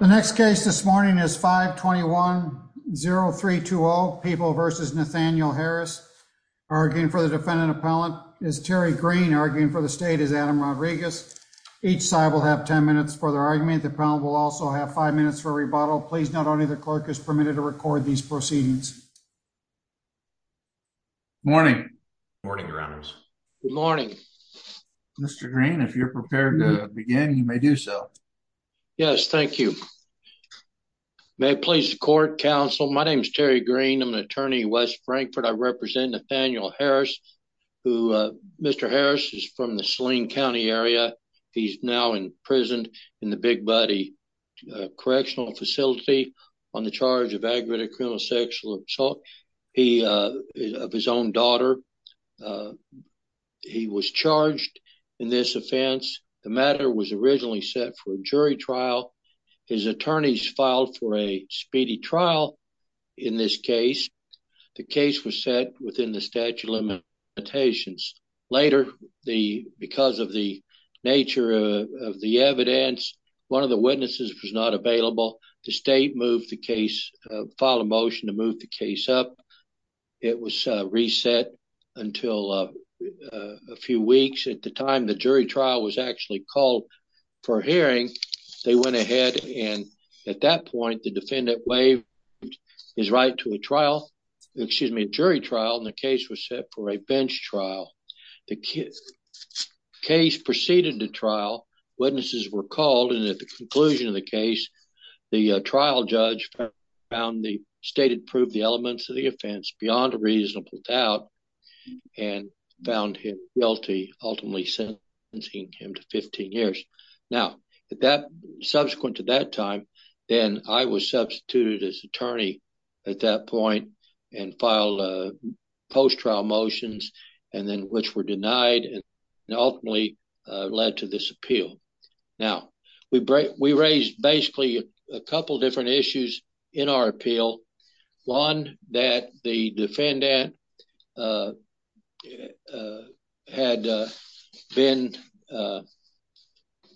The next case this morning is 521-0320 People v. Nathaniel Harris arguing for the defendant appellant is Terry Green arguing for the state is Adam Rodriguez. Each side will have 10 minutes for their argument. The problem will also have five minutes for rebuttal. Please note only the clerk is permitted to record these proceedings. Morning. Morning. Good morning. Mr. Green, if you're prepared to begin, you may do so. Yes, thank you. May it please the court, counsel. My name is Terry Green. I'm an attorney in West Frankfort. I represent Nathaniel Harris, who Mr. Harris is from the Saline County area. He's now in prison in the Big Buddy Correctional Facility on the charge of aggravated criminal sexual assault of his own daughter. Uh, he was charged in this offense. The matter was originally set for a jury trial. His attorneys filed for a speedy trial. In this case, the case was set within the statute of limitations. Later, the because of the nature of the evidence, one of the witnesses was not until a few weeks at the time the jury trial was actually called for hearing. They went ahead. And at that point, the defendant waived his right to a trial, excuse me, jury trial. And the case was set for a bench trial. The case proceeded to trial. Witnesses were called. And at the conclusion of the case, the trial judge found the state had proved the elements of the offense beyond a and found him guilty, ultimately sentencing him to 15 years. Now, that subsequent to that time, then I was substituted as attorney at that point and filed a post trial motions and then which were denied and ultimately led to this appeal. Now, we we raised basically a couple of different issues in our appeal, one that the defendant, uh, uh, had been, uh,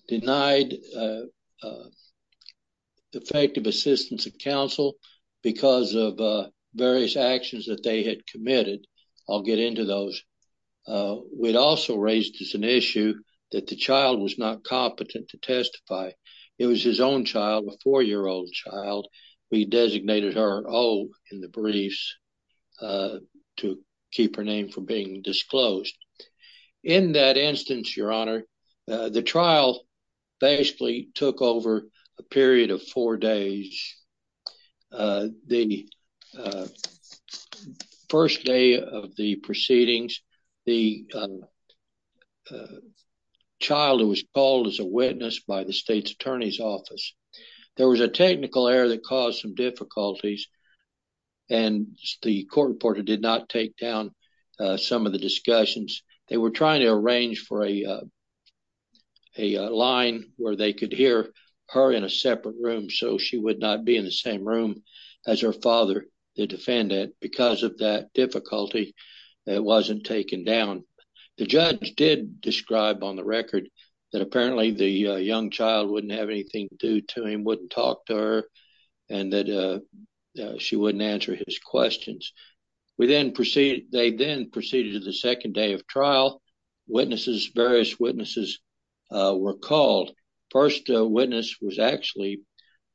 denied, uh, uh, effective assistance of counsel because of various actions that they had committed. I'll get into those. Uh, we'd also raised as an issue that the child was not competent to testify. It was his own child, a four year old child. We designated her old in the briefs, uh, to keep her name from being disclosed. In that instance, your honor, uh, the trial basically took over a period of four days. Uh, the, uh, first day of the proceedings, the, um, uh, child who was called as a witness by the attorney's office, there was a technical error that caused some difficulties and the court reporter did not take down some of the discussions they were trying to arrange for a, uh, a line where they could hear her in a separate room. So she would not be in the same room as her father, the defendant, because of that difficulty that wasn't taken down. The judge did describe on record that apparently the, uh, young child wouldn't have anything to do to him, wouldn't talk to her and that, uh, uh, she wouldn't answer his questions. We then proceeded, they then proceeded to the second day of trial. Witnesses, various witnesses, uh, were called. First witness was actually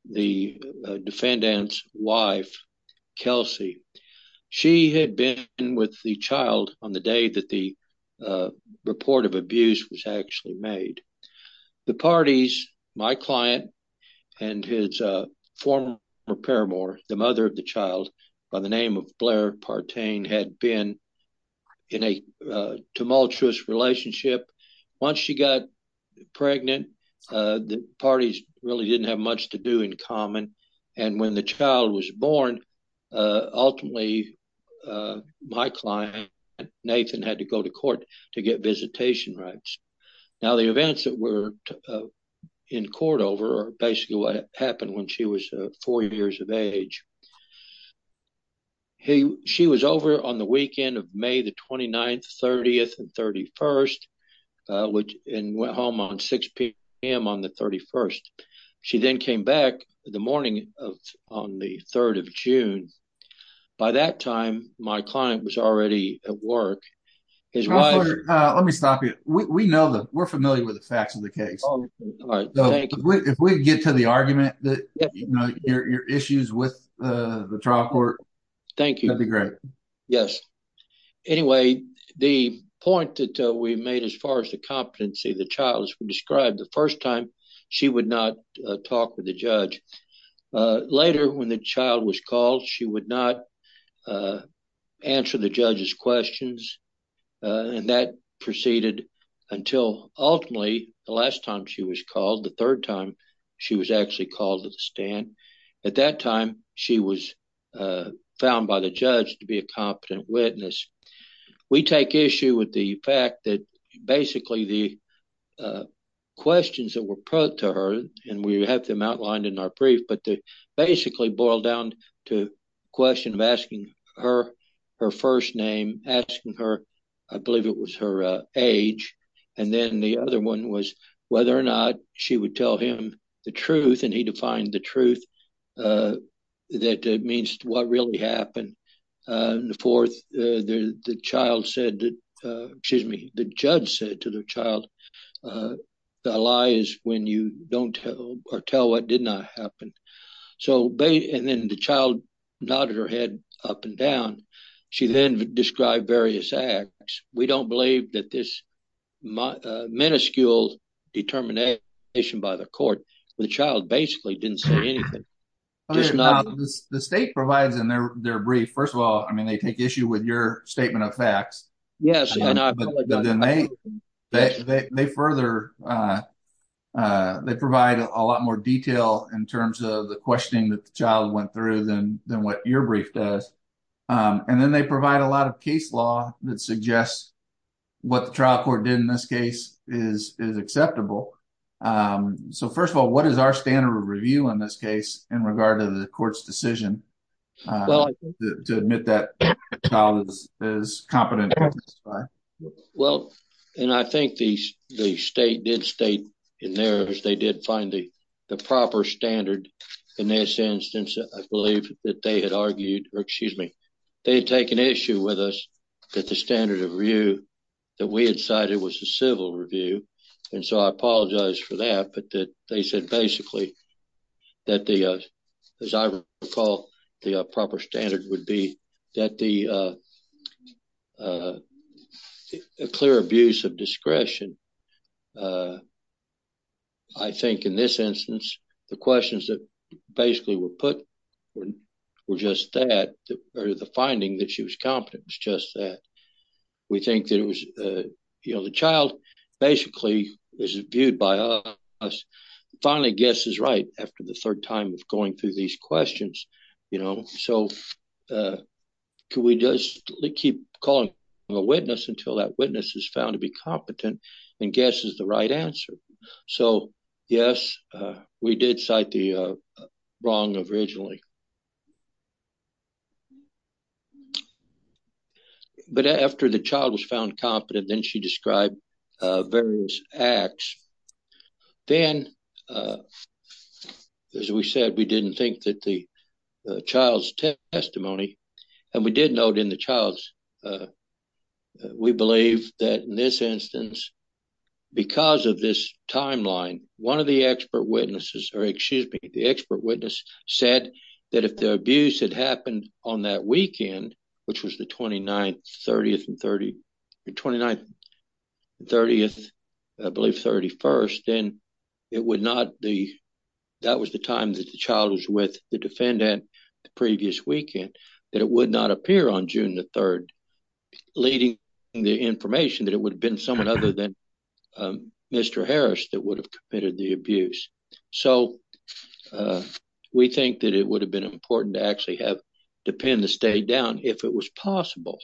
the defendant's wife, Kelsey. She had been with the child on the day that the, uh, report of abuse was actually made. The parties, my client and his, uh, former paramour, the mother of the child by the name of Blair Partain had been in a, uh, tumultuous relationship. Once she got pregnant, uh, the parties really didn't have much to do in common. And when the get visitation rights. Now the events that were, uh, in court over are basically what happened when she was, uh, four years of age. He, she was over on the weekend of May the 29th, 30th and 31st, uh, which, and went home on 6 p.m. on the 31st. She then came back the morning of, on the 3rd of June. By that time, my client was already at work. Let me stop you. We know that we're familiar with the facts of the case. If we get to the argument that, you know, your, your issues with, uh, the trial court. Thank you. That'd be great. Yes. Anyway, the point that we made as far as the competency, the child was described the first time she would not talk with the judge. Uh, later when the child was called, she would not, uh, answer the judge's questions. Uh, and that proceeded until ultimately the last time she was called the third time she was actually called to the stand at that time, she was, uh, found by the judge to be a competent witness. We take issue with the fact that basically the, uh, questions that were put to her, and we have them outlined in our brief, but they basically boil down to question of asking her, her first name, asking her, I believe it was her, uh, age. And then the other one was whether or not she would tell him the truth. And he defined the truth, uh, that means what really happened. Uh, and the fourth, uh, the child said, uh, excuse me, the judge said to the child, uh, the lie is when you don't tell or tell what did not happen. So they, and then the child nodded her head up and down. She then described various acts. We don't believe that this minuscule determination by the court, the child basically didn't say anything. The state provides in their, their brief. First of all, I mean, they take issue with your statement of facts, but then they, they, they further, uh, uh, they provide a lot more detail in terms of the questioning that the child went through than, than what your brief does. Um, and then they provide a lot of case law that suggests what the trial court did in this case is, is acceptable. Um, so first of all, what is our standard review in this case in regard to the court's decision, uh, to admit that child is competent? Well, and I think these, the state did state in there as they did find the, the proper standard in this instance, I believe that they had argued, or excuse me, they had taken issue with us that the standard of review that we had cited was a civil review. And so I apologize for that, but they said basically that the, uh, as I recall, the proper standard would be that the, uh, uh, a clear abuse of discretion. Uh, I think in this instance, the questions that basically were put were just that, or the finding that she was competent was just that we think that it was, you know, the child basically is viewed by us. Finally guess is right after the third time of going through these questions, you know, so, uh, can we just keep calling a witness until that witness is found to be competent and guess is the right answer. So yes, uh, we did cite the, uh, wrong originally, but after the child was found competent, then she described, uh, various acts. Then, uh, as we said, we didn't think that the child's testimony, and we did note in the child's, uh, we believe that in this instance, because of this timeline, one of the expert witnesses, or excuse me, the expert witness said that if the abuse had happened on that weekend, which was the 29th, 30th, and 30, 29th, 30th, I believe 31st, then it would not be, that was the time that the child was with the defendant the previous weekend, that it would not appear on June the 3rd, leading the information that it would have been someone other than, Mr. Harris that would have committed the abuse. So, uh, we think that it would have been important to actually have the pen to stay down if it was possible,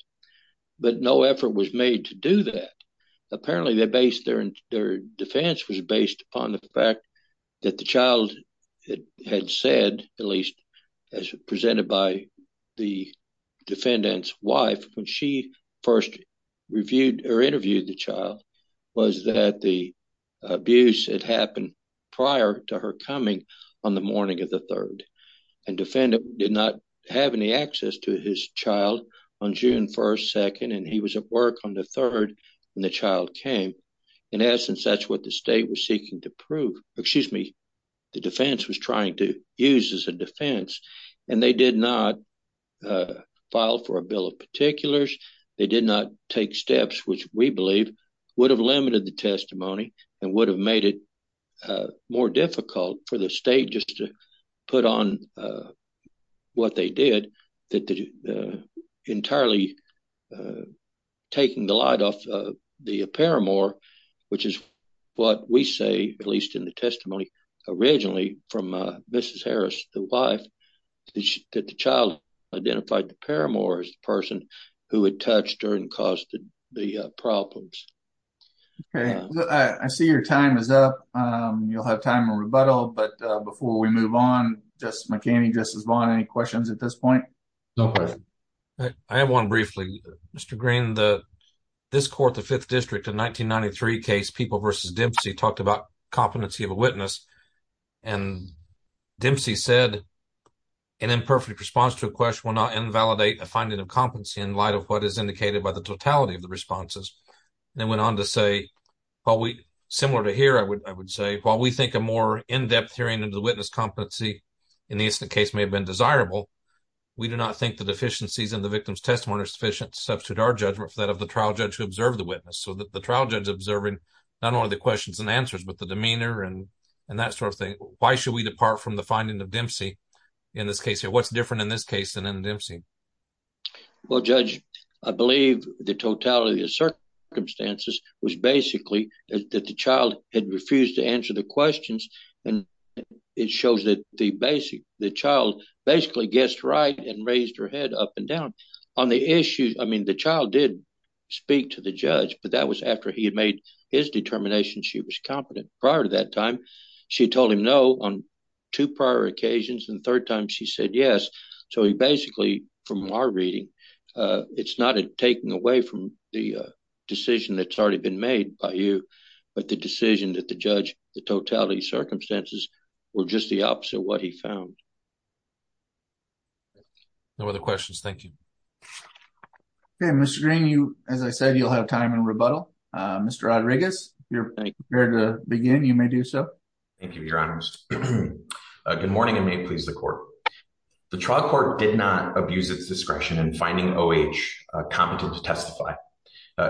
but no effort was made to do that. Apparently, their defense was based upon the fact that the child had said, at least as presented by the defendant's wife when she first reviewed or interviewed the child, was that the abuse had happened prior to her coming on the morning of the 3rd, and defendant did not have any access to his child on June 1st, 2nd, and he was at work on the 3rd when the child came. In essence, that's what the state was seeking to prove, excuse me, the defense was trying to use as a defense, and they did not file for a bill of particulars, they did not take steps which we believe would have limited the testimony and would have made it more difficult for the state just to put on what they did, that entirely taking the light off the paramour, which is what we say, at least in the testimony originally from Mrs. Harris, the wife, that the child identified the paramour as the person who had touched her and caused the problems. Okay, I see your time is up, you'll have time for rebuttal, but before we move on, Justice McCanney, Justice Vaughn, any questions at this point? No questions. I have one briefly. Mr. Green, this court, the 5th district, the 1993 case, People v. Dempsey, talked about competency of a witness, and Dempsey said, an imperfect response to a question will not invalidate a finding of competency in light of what is indicated by the totality of the responses, and then went on to say, similar to here, I would say, while we think a more in-depth hearing of the witness' competency in the incident case may have been desirable, we do not think the deficiencies in the victim's testimony are sufficient to substitute our judgment for that of the trial judge who observed the witness. So the trial judge observing not only the questions and answers, but the demeanor and that sort of thing, why should we depart from the finding of Dempsey in this case here? What's different in this case than in Dempsey? Well, Judge, I believe the totality of circumstances was basically that the child had refused to answer the questions, and it shows that the child basically guessed right and raised her head up and down. On the issue, I mean, the child did speak to the judge, but that was after he had made his determination she was competent. Prior to that time, she told him no on two prior occasions, and the third time she said yes. So he basically, from our reading, it's not a taking away from the decision that's already been made by you, but the decision that the judge, the totality of circumstances, were just the opposite of what he found. Thank you. No other questions. Thank you. Okay, Mr. Green, as I said, you'll have time in rebuttal. Mr. Rodriguez, if you're prepared to begin, you may do so. Thank you, Your Honors. Good morning and may it please the Court. The trial court did not abuse its discretion in finding O.H. competent to testify.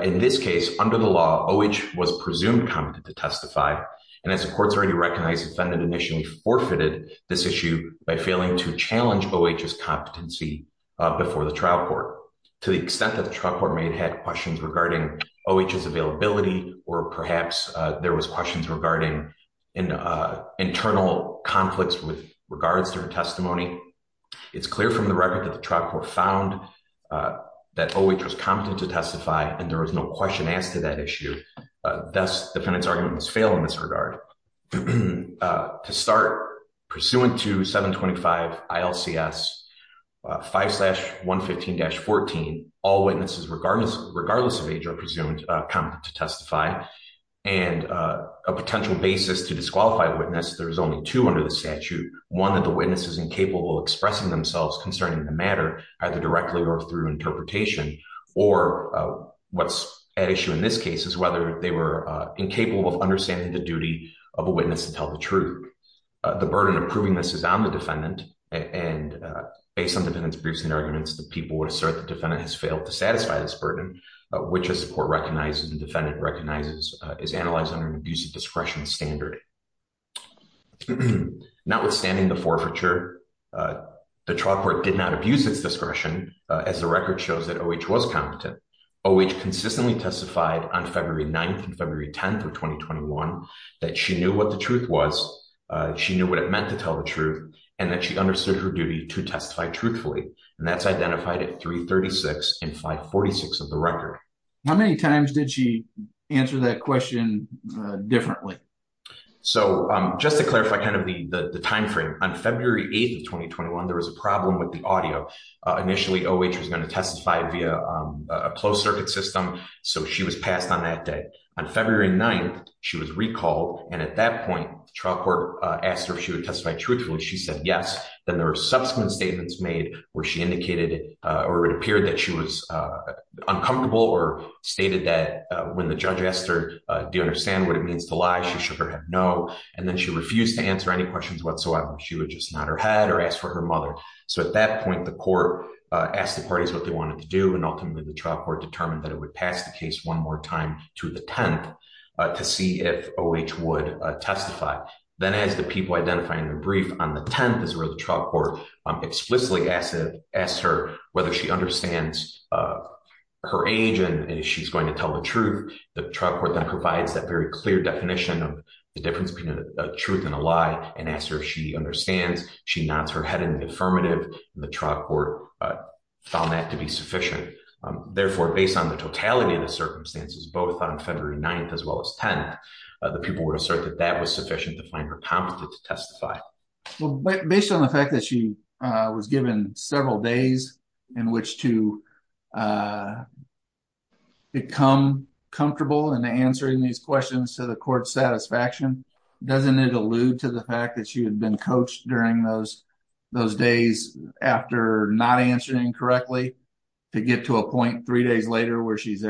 In this case, under the law, O.H. was presumed competent to testify, and as the Court's already recognized, defendant initially forfeited this issue by failing to challenge O.H.'s competency before the trial court. To the extent that the trial court may have had questions regarding O.H.'s availability, or perhaps there was questions regarding internal conflicts with regards to her testimony, it's clear from the record that the trial court found that O.H. was competent to testify, and there was no question asked to that issue. Thus, defendant's argument was failed in this regard. To start, pursuant to 725 ILCS 5-115-14, all witnesses regardless of age are presumed competent to testify, and a potential basis to disqualify the witness, there's only two under the statute. One, that the witness is incapable of expressing themselves concerning the matter, either directly or through interpretation, or what's at issue in this case is whether they were incapable of understanding the duty of a witness to tell the truth. The burden of proving this is on the defendant, and based on defendant's briefs and arguments, the people would assert the defendant has failed to satisfy this burden, which as the Court recognizes, the defendant recognizes, is analyzed under an abuse of discretion standard. Notwithstanding the forfeiture, the trial court did not abuse its discretion, as the record shows that O.H. was competent. O.H. consistently testified on February 9th and February 10th of 2021, that she knew what the truth was, she knew what it meant to tell the truth, and that she understood her duty to testify truthfully, and that's identified at 336 and 546 of the record. How many times did she answer that question differently? So, just to clarify kind of the the time frame, on February 8th of 2021, there was a problem with the audio. Initially, O.H. was going to testify via a closed circuit system, so she was passed on that day. On February 9th, she was recalled, and at that point, the trial court asked her if she would testify truthfully. She said yes, then there were subsequent statements made where she indicated or it appeared that she was uncomfortable or stated that when the judge asked her, do you understand what it means to lie, she should have no, and then she refused to answer any questions whatsoever. She would just nod her head or ask for her mother. So, at that point, the court asked the parties what they wanted to do, and ultimately, the trial court determined that it would pass the case one more time to the 10th to see if O.H. would testify. Then, as the people identifying the brief on the 10th is where the trial court explicitly asked her whether she understands her age and if she's going to tell the truth, the trial court then provides that very clear definition of the difference between a truth and a lie. The trial court found that to be sufficient. Therefore, based on the totality of the circumstances, both on February 9th as well as 10th, the people would assert that that was sufficient to find her competent to testify. Well, based on the fact that she was given several days in which to become comfortable in answering these questions to the court's satisfaction, doesn't it allude to the fact that she had been coached during those days after not answering correctly to get to a point three days later where she's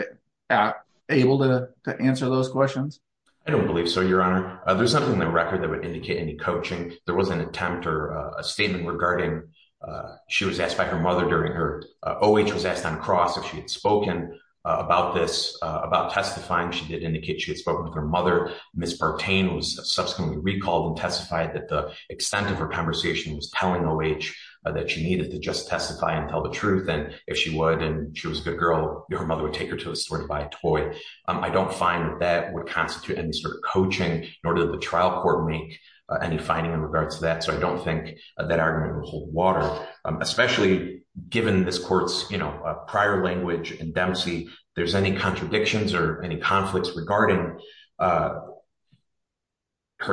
able to answer those questions? I don't believe so, Your Honor. There's nothing in the record that would indicate any coaching. There was an attempt or a statement regarding, she was asked by her mother during her, O.H. was asked on cross if she had spoken about this, about testifying. She did indicate she subsequently recalled and testified that the extent of her conversation was telling O.H. that she needed to just testify and tell the truth. If she would and she was a good girl, your mother would take her to a store to buy a toy. I don't find that that would constitute any sort of coaching, nor did the trial court make any finding in regards to that. I don't think that argument will hold water, especially given this court's prior language and dempsey. If there's any contradictions or any conflicts regarding her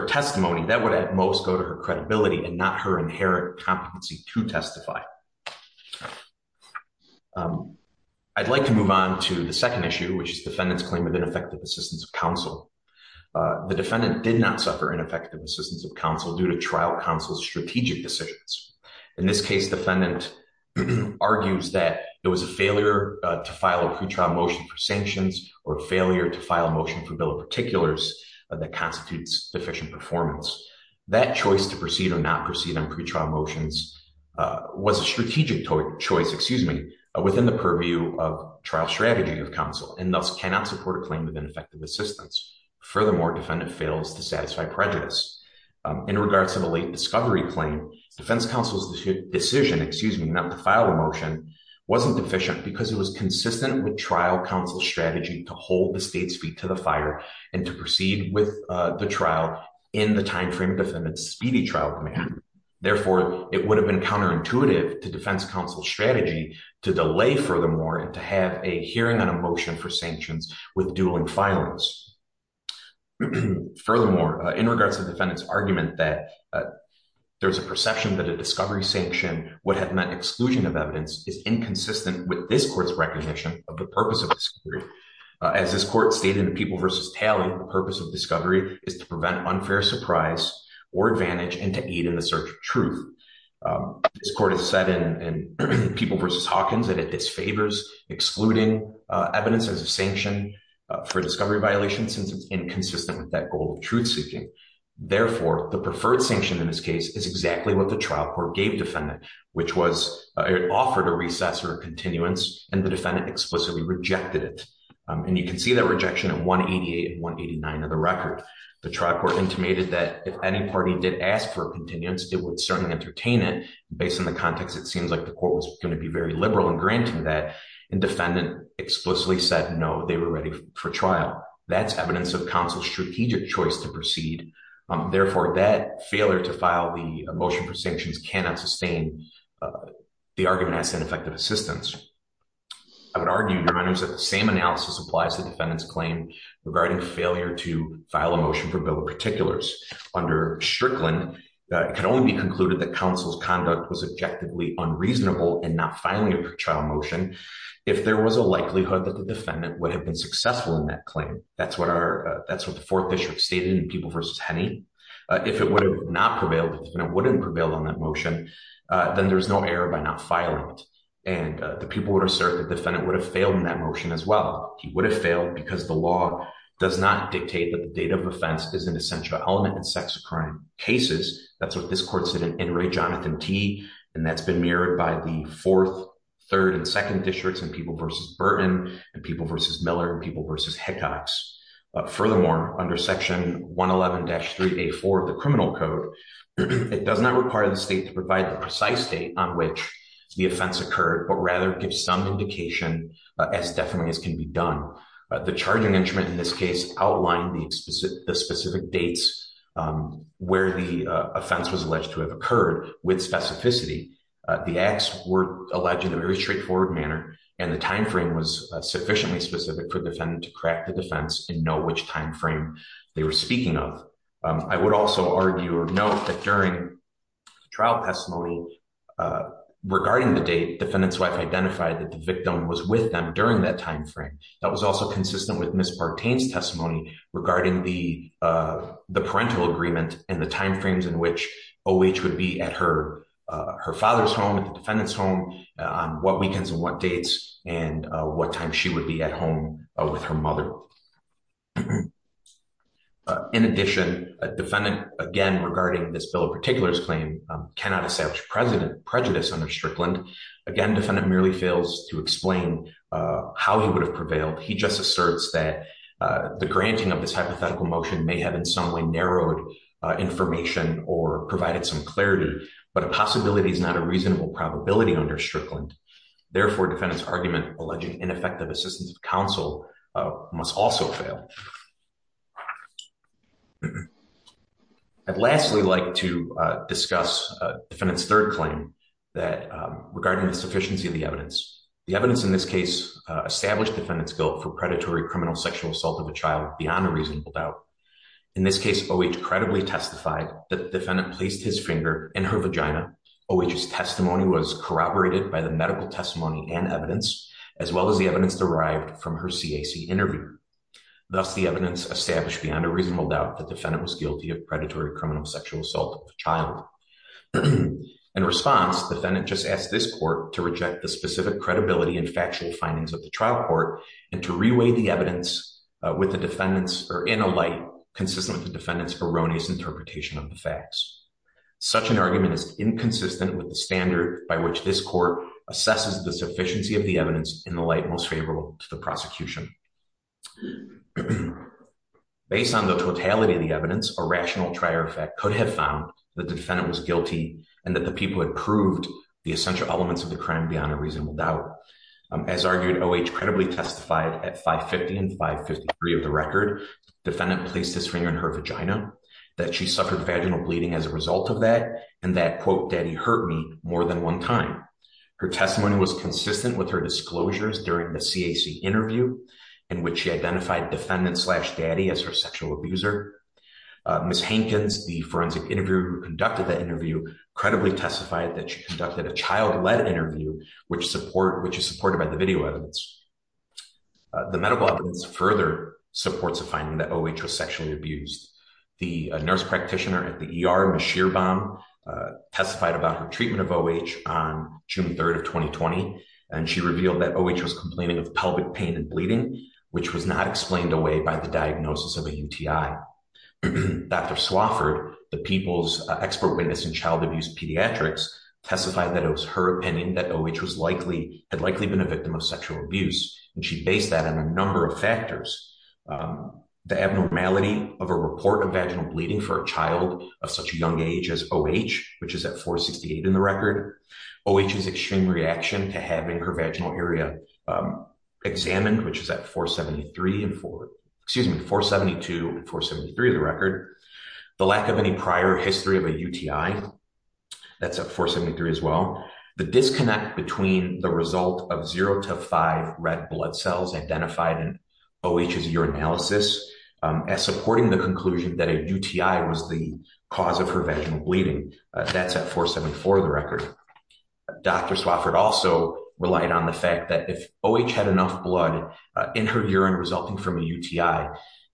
testimony, that would at most go to her credibility and not her inherent competency to testify. I'd like to move on to the second issue, which is defendant's claim of ineffective assistance of counsel. The defendant did not suffer ineffective assistance of counsel due to trial counsel's failure to file a pre-trial motion for sanctions or failure to file a motion for bill of particulars that constitutes deficient performance. That choice to proceed or not proceed on pre-trial motions was a strategic choice, excuse me, within the purview of trial strategy of counsel and thus cannot support a claim of ineffective assistance. Furthermore, defendant fails to satisfy prejudice. In regards to the late discovery claim, defense counsel's decision, excuse me, not to file a pre-trial motion for sanctions was not sufficient because it was consistent with trial counsel's strategy to hold the state's feet to the fire and to proceed with the trial in the time frame defendant's speedy trial command. Therefore, it would have been counterintuitive to defense counsel's strategy to delay furthermore and to have a hearing on a motion for sanctions with dueling filings. Furthermore, in regards to defendant's argument that there's a perception that a discovery sanction would have meant exclusion of evidence is inconsistent with this court's recognition of the purpose of discovery. As this court stated in People v. Talley, the purpose of discovery is to prevent unfair surprise or advantage and to aid in the search of truth. This court has said in People v. Hawkins that it disfavors excluding evidence as a sanction for discovery violation since it's inconsistent with that goal of truth-seeking. Therefore, the preferred sanction in this case is exactly what the trial court gave defendant, which was it offered a recess or a continuance and the defendant explicitly rejected it. And you can see that rejection of 188 and 189 of the record. The trial court intimated that if any party did ask for a continuance, it would certainly entertain it. Based on the context, it seems like the court was going to be very liberal in granting that and defendant explicitly said no, they were ready for trial. That's evidence of counsel's strategic choice to proceed. Therefore, that failure to file the motion for sanctions cannot sustain the argument as ineffective assistance. I would argue, Your Honors, that the same analysis applies to defendant's claim regarding failure to file a motion for bill of particulars. Under Strickland, it can only be concluded that counsel's conduct was objectively unreasonable in not filing a trial motion if there was a likelihood that the defendant would have been successful in that claim. That's what the fourth district stated in People v. Henney. If it would have not prevailed, the defendant wouldn't prevail on that motion, then there's no error by not filing it. And the people would assert the defendant would have failed in that motion as well. He would have failed because the law does not dictate that the date of offense is an essential element in sex crime cases. That's what this court said in Inouye Jonathan T., and that's been mirrored by the fourth, third, and second districts in People v. Burton, and People v. Miller, and People v. Hickox. Furthermore, under Section 111-3A4 of the Criminal Code, it does not require the state to provide the precise date on which the offense occurred, but rather give some indication as definitely as can be done. The charging instrument in this case outlined the specific dates where the offense was alleged to have occurred with specificity. The acts were alleged in a very straightforward manner, and the time frame was sufficiently specific for the defendant to crack the defense and know which time frame they were speaking of. I would also argue or note that during trial testimony regarding the date, defendant's wife identified that the victim was with them during that time frame. That was also consistent with Ms. Bartain's testimony regarding the parental agreement and the time frames in which O.H. would be at her father's home, at the defendant's home, on what weekends and what dates, and what time she would be at home with her mother. In addition, a defendant, again regarding this Bill of Particulars claim, cannot establish prejudice under Strickland. Again, defendant merely fails to explain how he would have prevailed. He just asserts that the granting of this hypothetical motion may have in some way narrowed information or provided some clarity, but a possibility is not a reasonable probability under Strickland. Therefore, defendant's argument alleging ineffective assistance of counsel must also fail. I'd lastly like to discuss defendant's third claim regarding the sufficiency of the evidence. The evidence in this case established defendant's guilt for predatory criminal sexual assault of a child beyond a reasonable doubt. In this case, O.H. credibly testified that defendant placed his finger in her vagina. O.H.'s testimony was corroborated by the medical testimony and evidence, as well as the evidence derived from her CAC interview. Thus, the evidence established beyond a reasonable doubt that defendant was guilty of this crime. Such an argument is inconsistent with the standard by which this court assesses the sufficiency of the evidence in the light most favorable to the prosecution. Based on the totality of the evidence, a rational trier effect could have found that defendant was guilty and that the people had proved the essential elements of the crime beyond a reasonable doubt. As argued, O.H. credibly testified at 5.50 and 5.53 of the record, defendant placed his finger in her vagina, that she suffered vaginal bleeding as a result of that, and that, quote, daddy hurt me more than one time. Her testimony was consistent with her disclosures during the CAC interview, in which she identified defendant slash daddy as her sexual abuser. Ms. Hankins, the forensic interviewer who conducted that interview, credibly testified that she conducted a child-led interview, which is supported by the video evidence. The medical evidence further supports the finding that O.H. was sexually abused. The nurse practitioner at the ER, Ms. Shearbaum, testified about her treatment of O.H. on June 3rd of 2020, and she revealed that O.H. was complaining of pelvic pain and bleeding, which was not explained away by the diagnosis of a UTI. Dr. Swafford, the people's expert witness in child abuse pediatrics, testified that it was her opinion that O.H. had likely been a victim of sexual abuse, and she based that on a number of factors. The abnormality of a report of vaginal bleeding for a child of such a young age as O.H., which is at 4.68 in the record. O.H.'s extreme reaction to having her vaginal area examined, which is at 4.72 and 4.73 in the record. The lack of any prior history of a UTI, that's at 4.73 as well. The disconnect between the result of zero to five red blood cells identified in O.H.'s urinalysis as supporting the conclusion that a UTI was the cause of her vaginal bleeding, that's at 4.74 in the record. Dr. Swafford also relied on the fact that if O.H. had enough blood in her urine resulting from a UTI,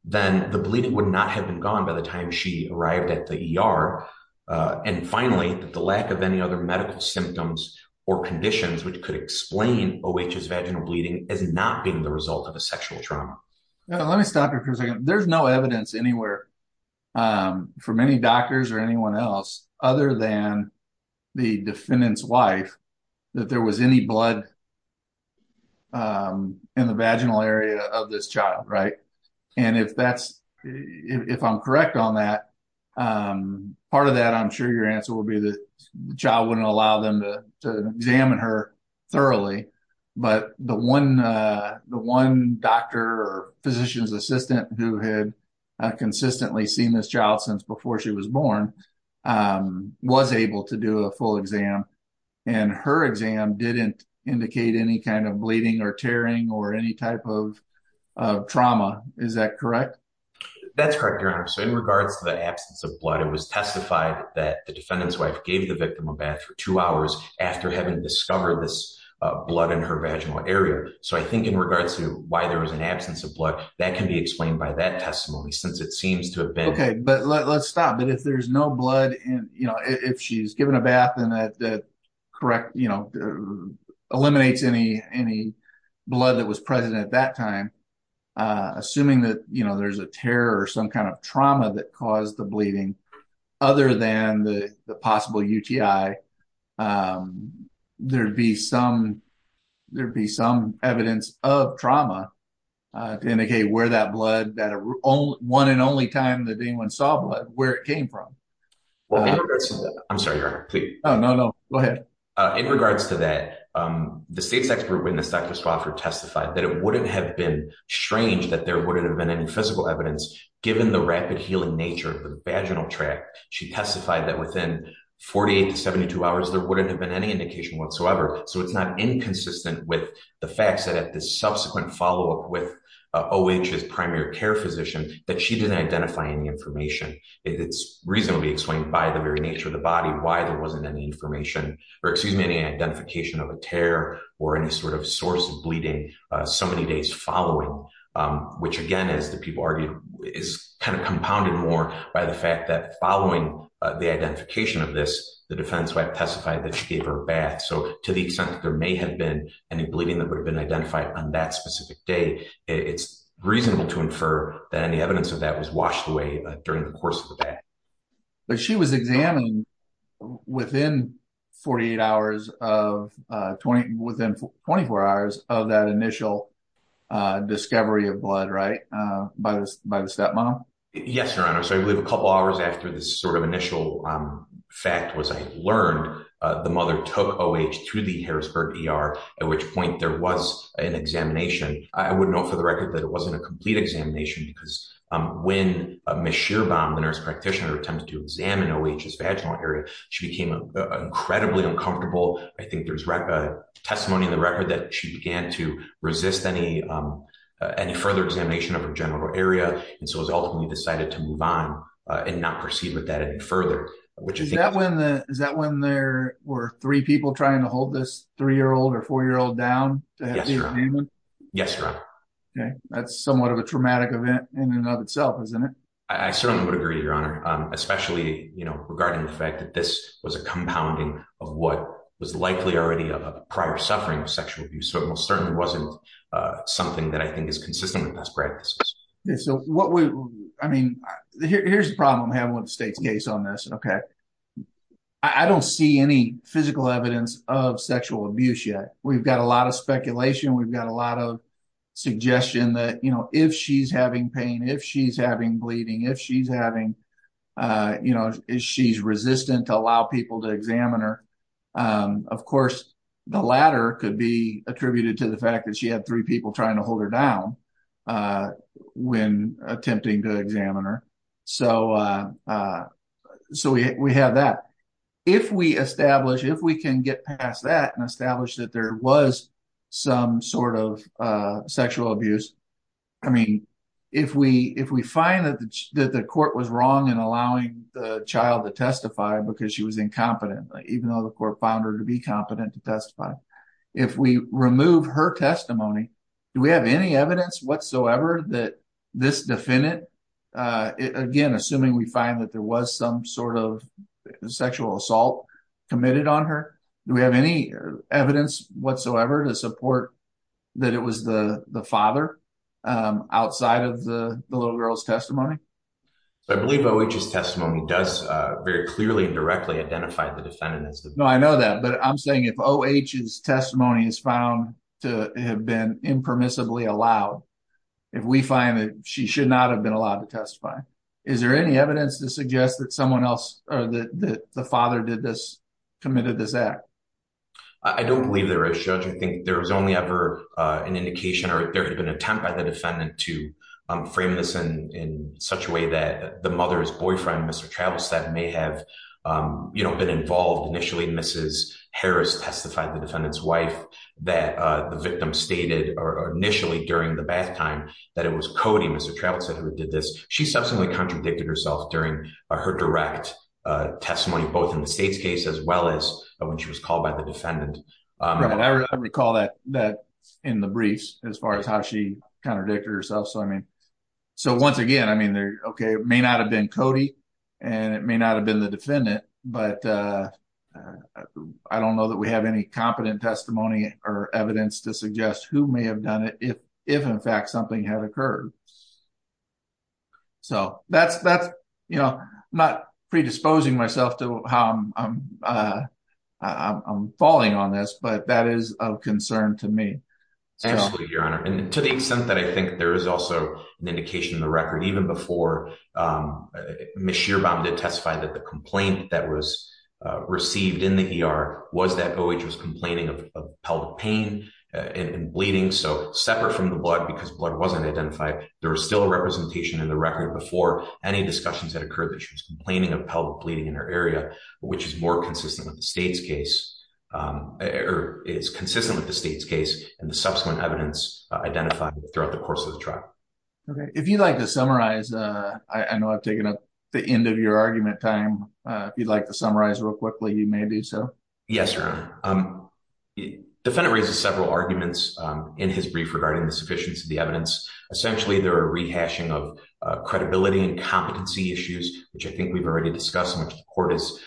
then the bleeding would not have been gone by the time she arrived at the ER. And finally, the lack of any other medical symptoms or conditions which could explain O.H.'s vaginal bleeding as not being the result of a sexual trauma. Let me stop there for a second. There's no evidence anywhere, for many doctors or anyone else, other than the defendant's wife, that there was any blood in the vaginal area of this child, right? And if I'm correct on that, part of that, I'm sure your answer will be that the child wouldn't allow them to examine her thoroughly, but the one doctor or physician's assistant who had consistently seen this child since before she was born was able to do a full exam. And her exam didn't indicate any kind of bleeding or tearing or any type of trauma. Is that correct? That's correct, Your Honor. So in regards to the absence of blood, it was testified that the defendant's wife gave the victim a bath for two hours after having discovered this blood in her vaginal area. So I think in regards to why there was an absence of blood, that can be explained by that testimony, since it seems to have been... Okay, but let's stop. But if there's no blood in, you know, if she's given a bath and that correct, you know, eliminates any blood that was present at that time, assuming that, you know, there's a tear or some kind of trauma that caused the bleeding other than the possible UTI, there'd be some evidence of trauma to indicate where that blood, that one and only time that anyone saw blood, where it came from. I'm sorry, Your Honor. Please. Oh, no, no. Go ahead. In regards to that, the state's expert witness, Dr. Swofford, testified that it wouldn't have been strange that there wouldn't have been any physical evidence given the rapid healing nature of the tract. She testified that within 48 to 72 hours, there wouldn't have been any indication whatsoever. So it's not inconsistent with the facts that at the subsequent follow-up with OH's primary care physician, that she didn't identify any information. It's reasonably explained by the very nature of the body, why there wasn't any information or excuse me, any identification of a tear or any sort of source of bleeding so many days following, which again, as the people argued, is kind of compounded more by the fact that following the identification of this, the defense testified that she gave her a bath. So to the extent that there may have been any bleeding that would have been identified on that specific day, it's reasonable to infer that any evidence of that was washed away during the course of the bath. But she was examined within 48 hours of, within 24 hours of that initial discovery of blood, right? By the stepmom? Yes, Your Honor. So I believe a couple hours after this sort of initial fact was learned, the mother took OH to the Harrisburg ER, at which point there was an examination. I would note for the record that it wasn't a complete examination because when Ms. Shearbaum, the nurse practitioner, attempted to examine OH's vaginal area, she became incredibly uncomfortable. I think there's testimony in the record that she began to resist any further examination of her genital area. And so it was ultimately decided to move on and not proceed with that any further. Is that when there were three people trying to hold this three-year-old or four-year-old down? Yes, Your Honor. Yes, Your Honor. Okay. That's somewhat of a traumatic event in and of itself, isn't it? I certainly would agree, Your Honor, especially regarding the fact that this was a compounding of what was likely already a prior suffering of sexual abuse. So it most certainly wasn't something that I think is consistent with past practices. So what we, I mean, here's the problem having with the state's case on this, okay? I don't see any physical evidence of sexual abuse yet. We've got a lot of speculation. We've got a lot of speculation. If she's having pain, if she's having bleeding, if she's having, you know, she's resistant to allow people to examine her. Of course, the latter could be attributed to the fact that she had three people trying to hold her down when attempting to examine her. So we have that. If we establish, if we can get past that and establish that there was some sort of sexual abuse, I mean, if we find that the court was wrong in allowing the child to testify because she was incompetent, even though the court found her to be competent to testify, if we remove her testimony, do we have any evidence whatsoever that this defendant, again, assuming we find that there was some sort of sexual assault committed on her, do we have any evidence whatsoever to support that it was the father outside of the little girl's testimony? So I believe O.H.'s testimony does very clearly and directly identify the defendant. No, I know that, but I'm saying if O.H.'s testimony is found to have been impermissibly allowed, if we find that she should not have been allowed to testify, is there any evidence to suggest that someone else or that the father did this, committed this act? I don't believe there is, Judge. I think there was only ever an indication or there had been an attempt by the defendant to frame this in such a way that the mother's boyfriend, Mr. Travis, that may have been involved. Initially, Mrs. Harris testified, the defendant's wife, that the victim stated initially during the bath time that it was Cody, Mr. Travis, that did this. She subsequently contradicted herself during her direct testimony, both in the state's case as well as when she was called by the defendant. I recall that in the briefs as far as how she contradicted herself. So I mean, so once again, I mean, okay, it may not have been Cody and it may not have been the defendant, but I don't know that we have any competent testimony or evidence to so that's, that's, you know, not predisposing myself to how I'm falling on this, but that is of concern to me. Absolutely, Your Honor. And to the extent that I think there is also an indication in the record, even before Ms. Shearbaum did testify that the complaint that was received in the ER was that OH was complaining of pelvic pain and bleeding. So separate from the before any discussions that occurred that she was complaining of pelvic bleeding in her area, which is more consistent with the state's case or is consistent with the state's case and the subsequent evidence identified throughout the course of the trial. Okay. If you'd like to summarize, I know I've taken up the end of your argument time. If you'd like to summarize real quickly, you may do so. Yes, Your Honor. Defendant raises several arguments in his brief regarding the sufficiency of the evidence. Essentially, there are rehashing of credibility and competency issues, which I think we've already discussed, which the court is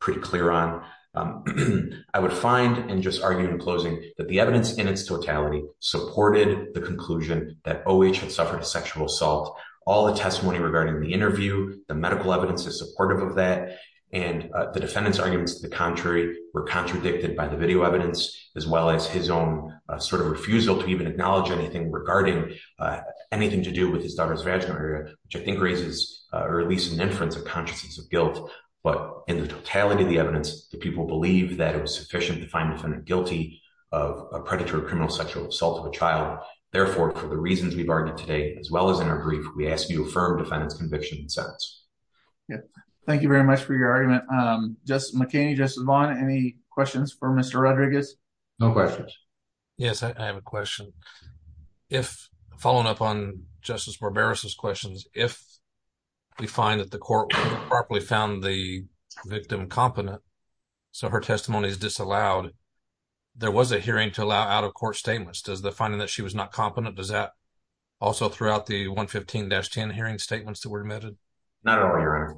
pretty clear on. I would find and just argue in closing that the evidence in its totality supported the conclusion that OH had suffered a sexual assault. All the testimony regarding the interview, the medical evidence is supportive of that. And the defendant's arguments to the contrary were contradicted by the video as well as his own sort of refusal to even acknowledge anything regarding anything to do with his daughter's vaginal area, which I think raises or at least an inference of consciences of guilt. But in the totality of the evidence, the people believe that it was sufficient to find the defendant guilty of a predatory criminal sexual assault of a child. Therefore, for the reasons we've argued today, as well as in our brief, we ask you to affirm defendant's conviction in the sentence. Thank you very much for your argument. Justice McKinney, Justice Vaughn, any questions for Mr. Rodriguez? No questions. Yes, I have a question. If following up on Justice Barbera's questions, if we find that the court properly found the victim competent, so her testimony is disallowed, there was a hearing to allow out-of-court statements. Does the finding that she was not competent, does that also throughout the 115-10 hearing statements that Not at all, Your Honor.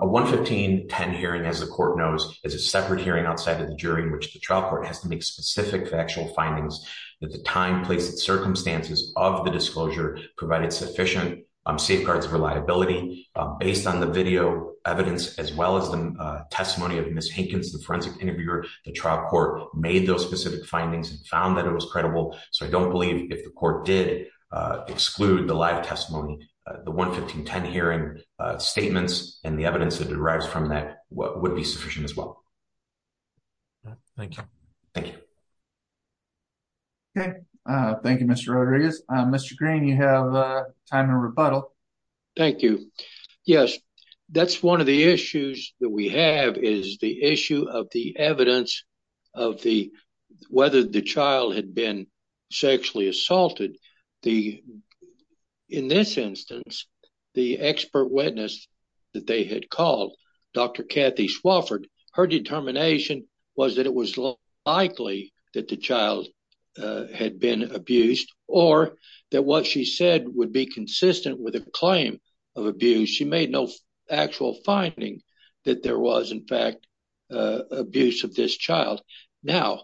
A 115-10 hearing, as the court knows, is a separate hearing outside of the jury in which the trial court has to make specific factual findings that the time, place, and circumstances of the disclosure provided sufficient safeguards for liability. Based on the video evidence, as well as the testimony of Ms. Hinkins, the forensic interviewer, the trial court made those specific findings and found that it was credible. So I don't believe if the court did exclude the live testimony, the 115-10 hearing statements and the evidence that derives from that would be sufficient as well. Thank you. Thank you. Okay. Thank you, Mr. Rodriguez. Mr. Green, you have time to rebuttal. Thank you. Yes, that's one of the the, in this instance, the expert witness that they had called, Dr. Kathy Swofford, her determination was that it was likely that the child had been abused or that what she said would be consistent with a claim of abuse. She made no actual finding that there was, in fact, abuse of this child. Now,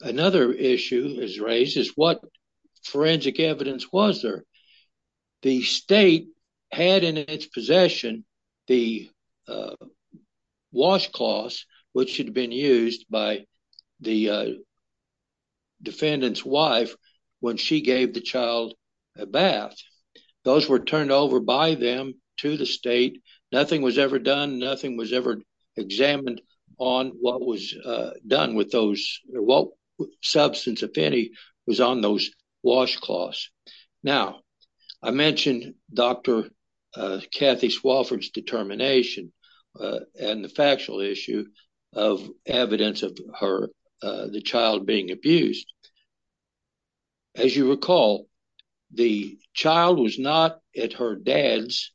another issue is raised is what forensic evidence was there? The state had in its possession the washcloth, which had been used by the defendant's wife when she gave the child a bath. Those were turned over by them to the state. Nothing was ever done. Nothing was ever examined on what was done with those, what substance, if any, was on those washcloths. Now, I mentioned Dr. Kathy Swofford's determination and the factual issue of evidence of her, the child being abused. As you recall, the child was not at her dad's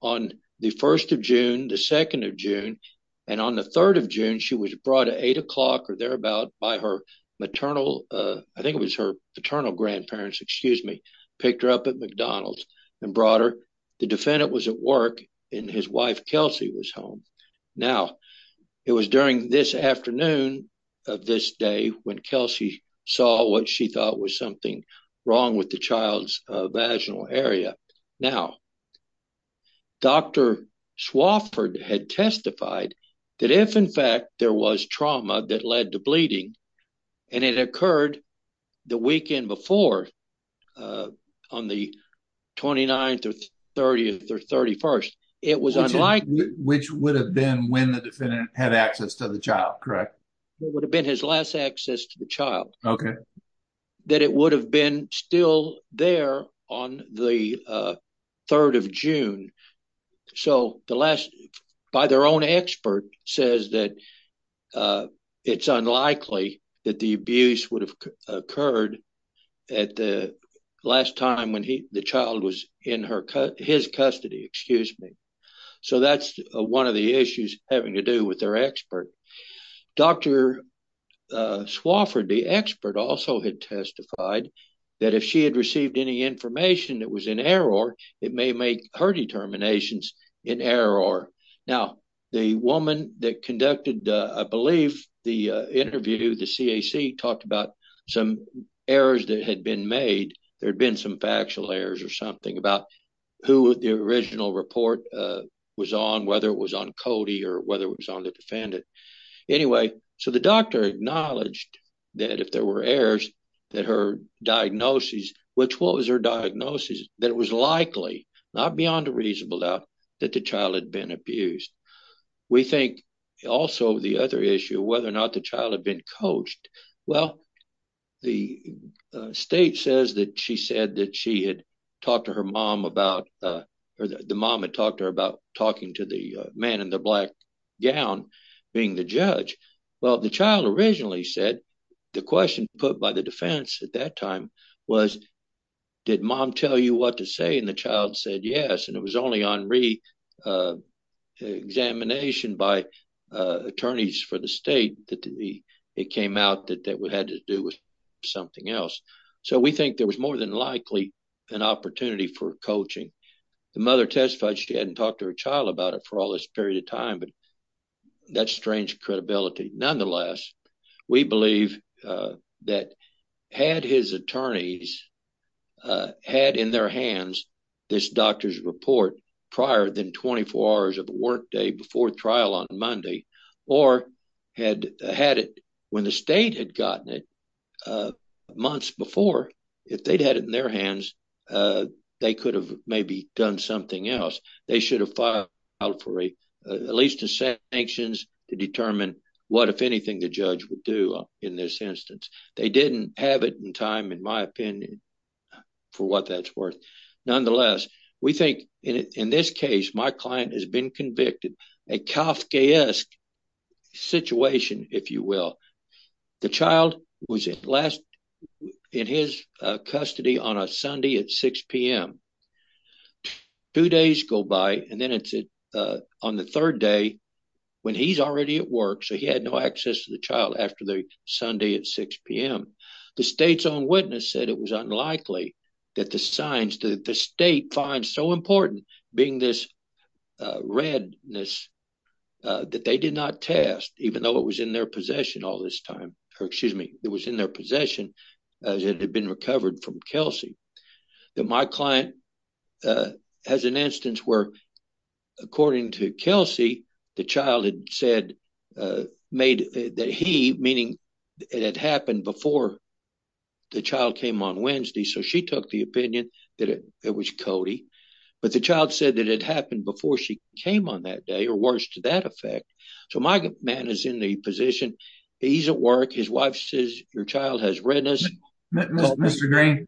on the 1st of June, the 2nd of June, and on the 3rd of June, she was brought at 8 o'clock or thereabout by her maternal, I think it was her paternal grandparents, excuse me, picked her up at McDonald's and brought her. The defendant was at work and his wife, Kelsey, was home. Now, it was during this afternoon of this day when Kelsey saw what she thought was something wrong with the child's vaginal area. Now, Dr. Swofford had testified that if, in fact, there was trauma that led to bleeding, and it occurred the weekend before, on the 29th or 30th or 31st, it was unlikely... Which would have been when the defendant had access to the child, correct? It would have been his last access to the child. That it would have been still there on the 3rd of June. So, by their own expert says that it's unlikely that the abuse would have occurred at the last time when the child was in his custody, excuse me. So, that's one of the issues having to do with their expert. Dr. Swofford, the expert, also had testified that if she had received any information that was in error, it may make her determinations in error. Now, the woman that conducted, I believe, the interview, the CAC talked about some errors that had been made. There had been some factual errors or something about who the original report was on, whether it was on Cody or whether it was on the defendant. Anyway, so the doctor acknowledged that if there were errors, that her diagnosis, which was her diagnosis, that it was likely, not beyond a reasonable doubt, that the child had been abused. We think also the other issue, whether or not the child had been coached. Well, the state says that she said that she had to her mom about, or the mom had talked to her about talking to the man in the black gown being the judge. Well, the child originally said the question put by the defense at that time was, did mom tell you what to say? And the child said yes. And it was only on re-examination by attorneys for the state that it came out that it had to do with something else. So, we think there was more than likely an opportunity for coaching. The mother testified she hadn't talked to her child about it for all this period of time, but that's strange credibility. Nonetheless, we believe that had his attorneys had in their hands this doctor's report prior than 24 hours of the workday before trial on Monday, or had had it when the state had gotten it months before, if they'd had it in their hands, they could have maybe done something else. They should have filed for at least a set of sanctions to determine what, if anything, the judge would do in this instance. They didn't have it in time, in my opinion, for what that's worth. Nonetheless, we think, in this case, my client has been convicted. A Kafkaesque situation, if you will. The child was in his custody on a Sunday at 6 p.m. Two days go by, and then it's on the third day when he's already at work, so he had no access to the child after the Sunday at 6 p.m. The state's find so important being this redness that they did not test, even though it was in their possession as it had been recovered from Kelsey. My client has an instance where, according to Kelsey, the child had said that he, meaning it had happened before the child came on Wednesday, so she took the opinion that it was Cody, but the child said that it happened before she came on that day, or worse to that effect. So my man is in the position, he's at work, his wife says your child has redness. Mr. Green,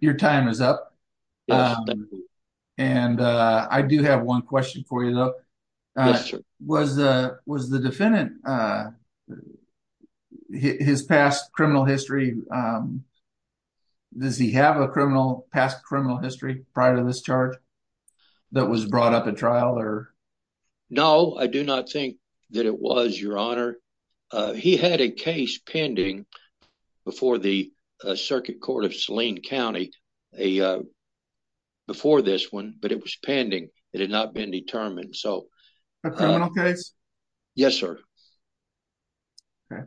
your time is up, and I do have one question for you, though. Was the defendant, his past criminal history, does he have a past criminal history prior to this charge that was brought up at trial? No, I do not think that it was, your honor. He had a case pending before the before this one, but it was pending. It had not been determined, so. A criminal case? Yes, sir. Okay,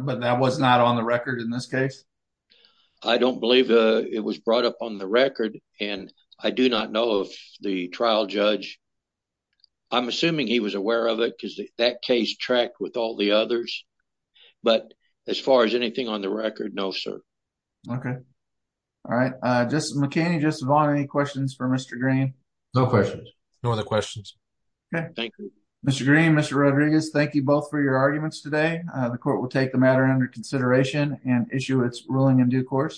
but that was not on the record in this case? I don't believe it was brought up on the record, and I do not know of the trial judge. I'm assuming he was aware of it, because that case tracked with all the others, but as far as anything on the record, no, sir. Okay, all right. Justice McCanney, Justice Vaughn, any questions for Mr. Green? No questions, no other questions. Okay, thank you. Mr. Green, Mr. Rodriguez, thank you both for your arguments today. The court will take the matter under consideration and issue its ruling in due course.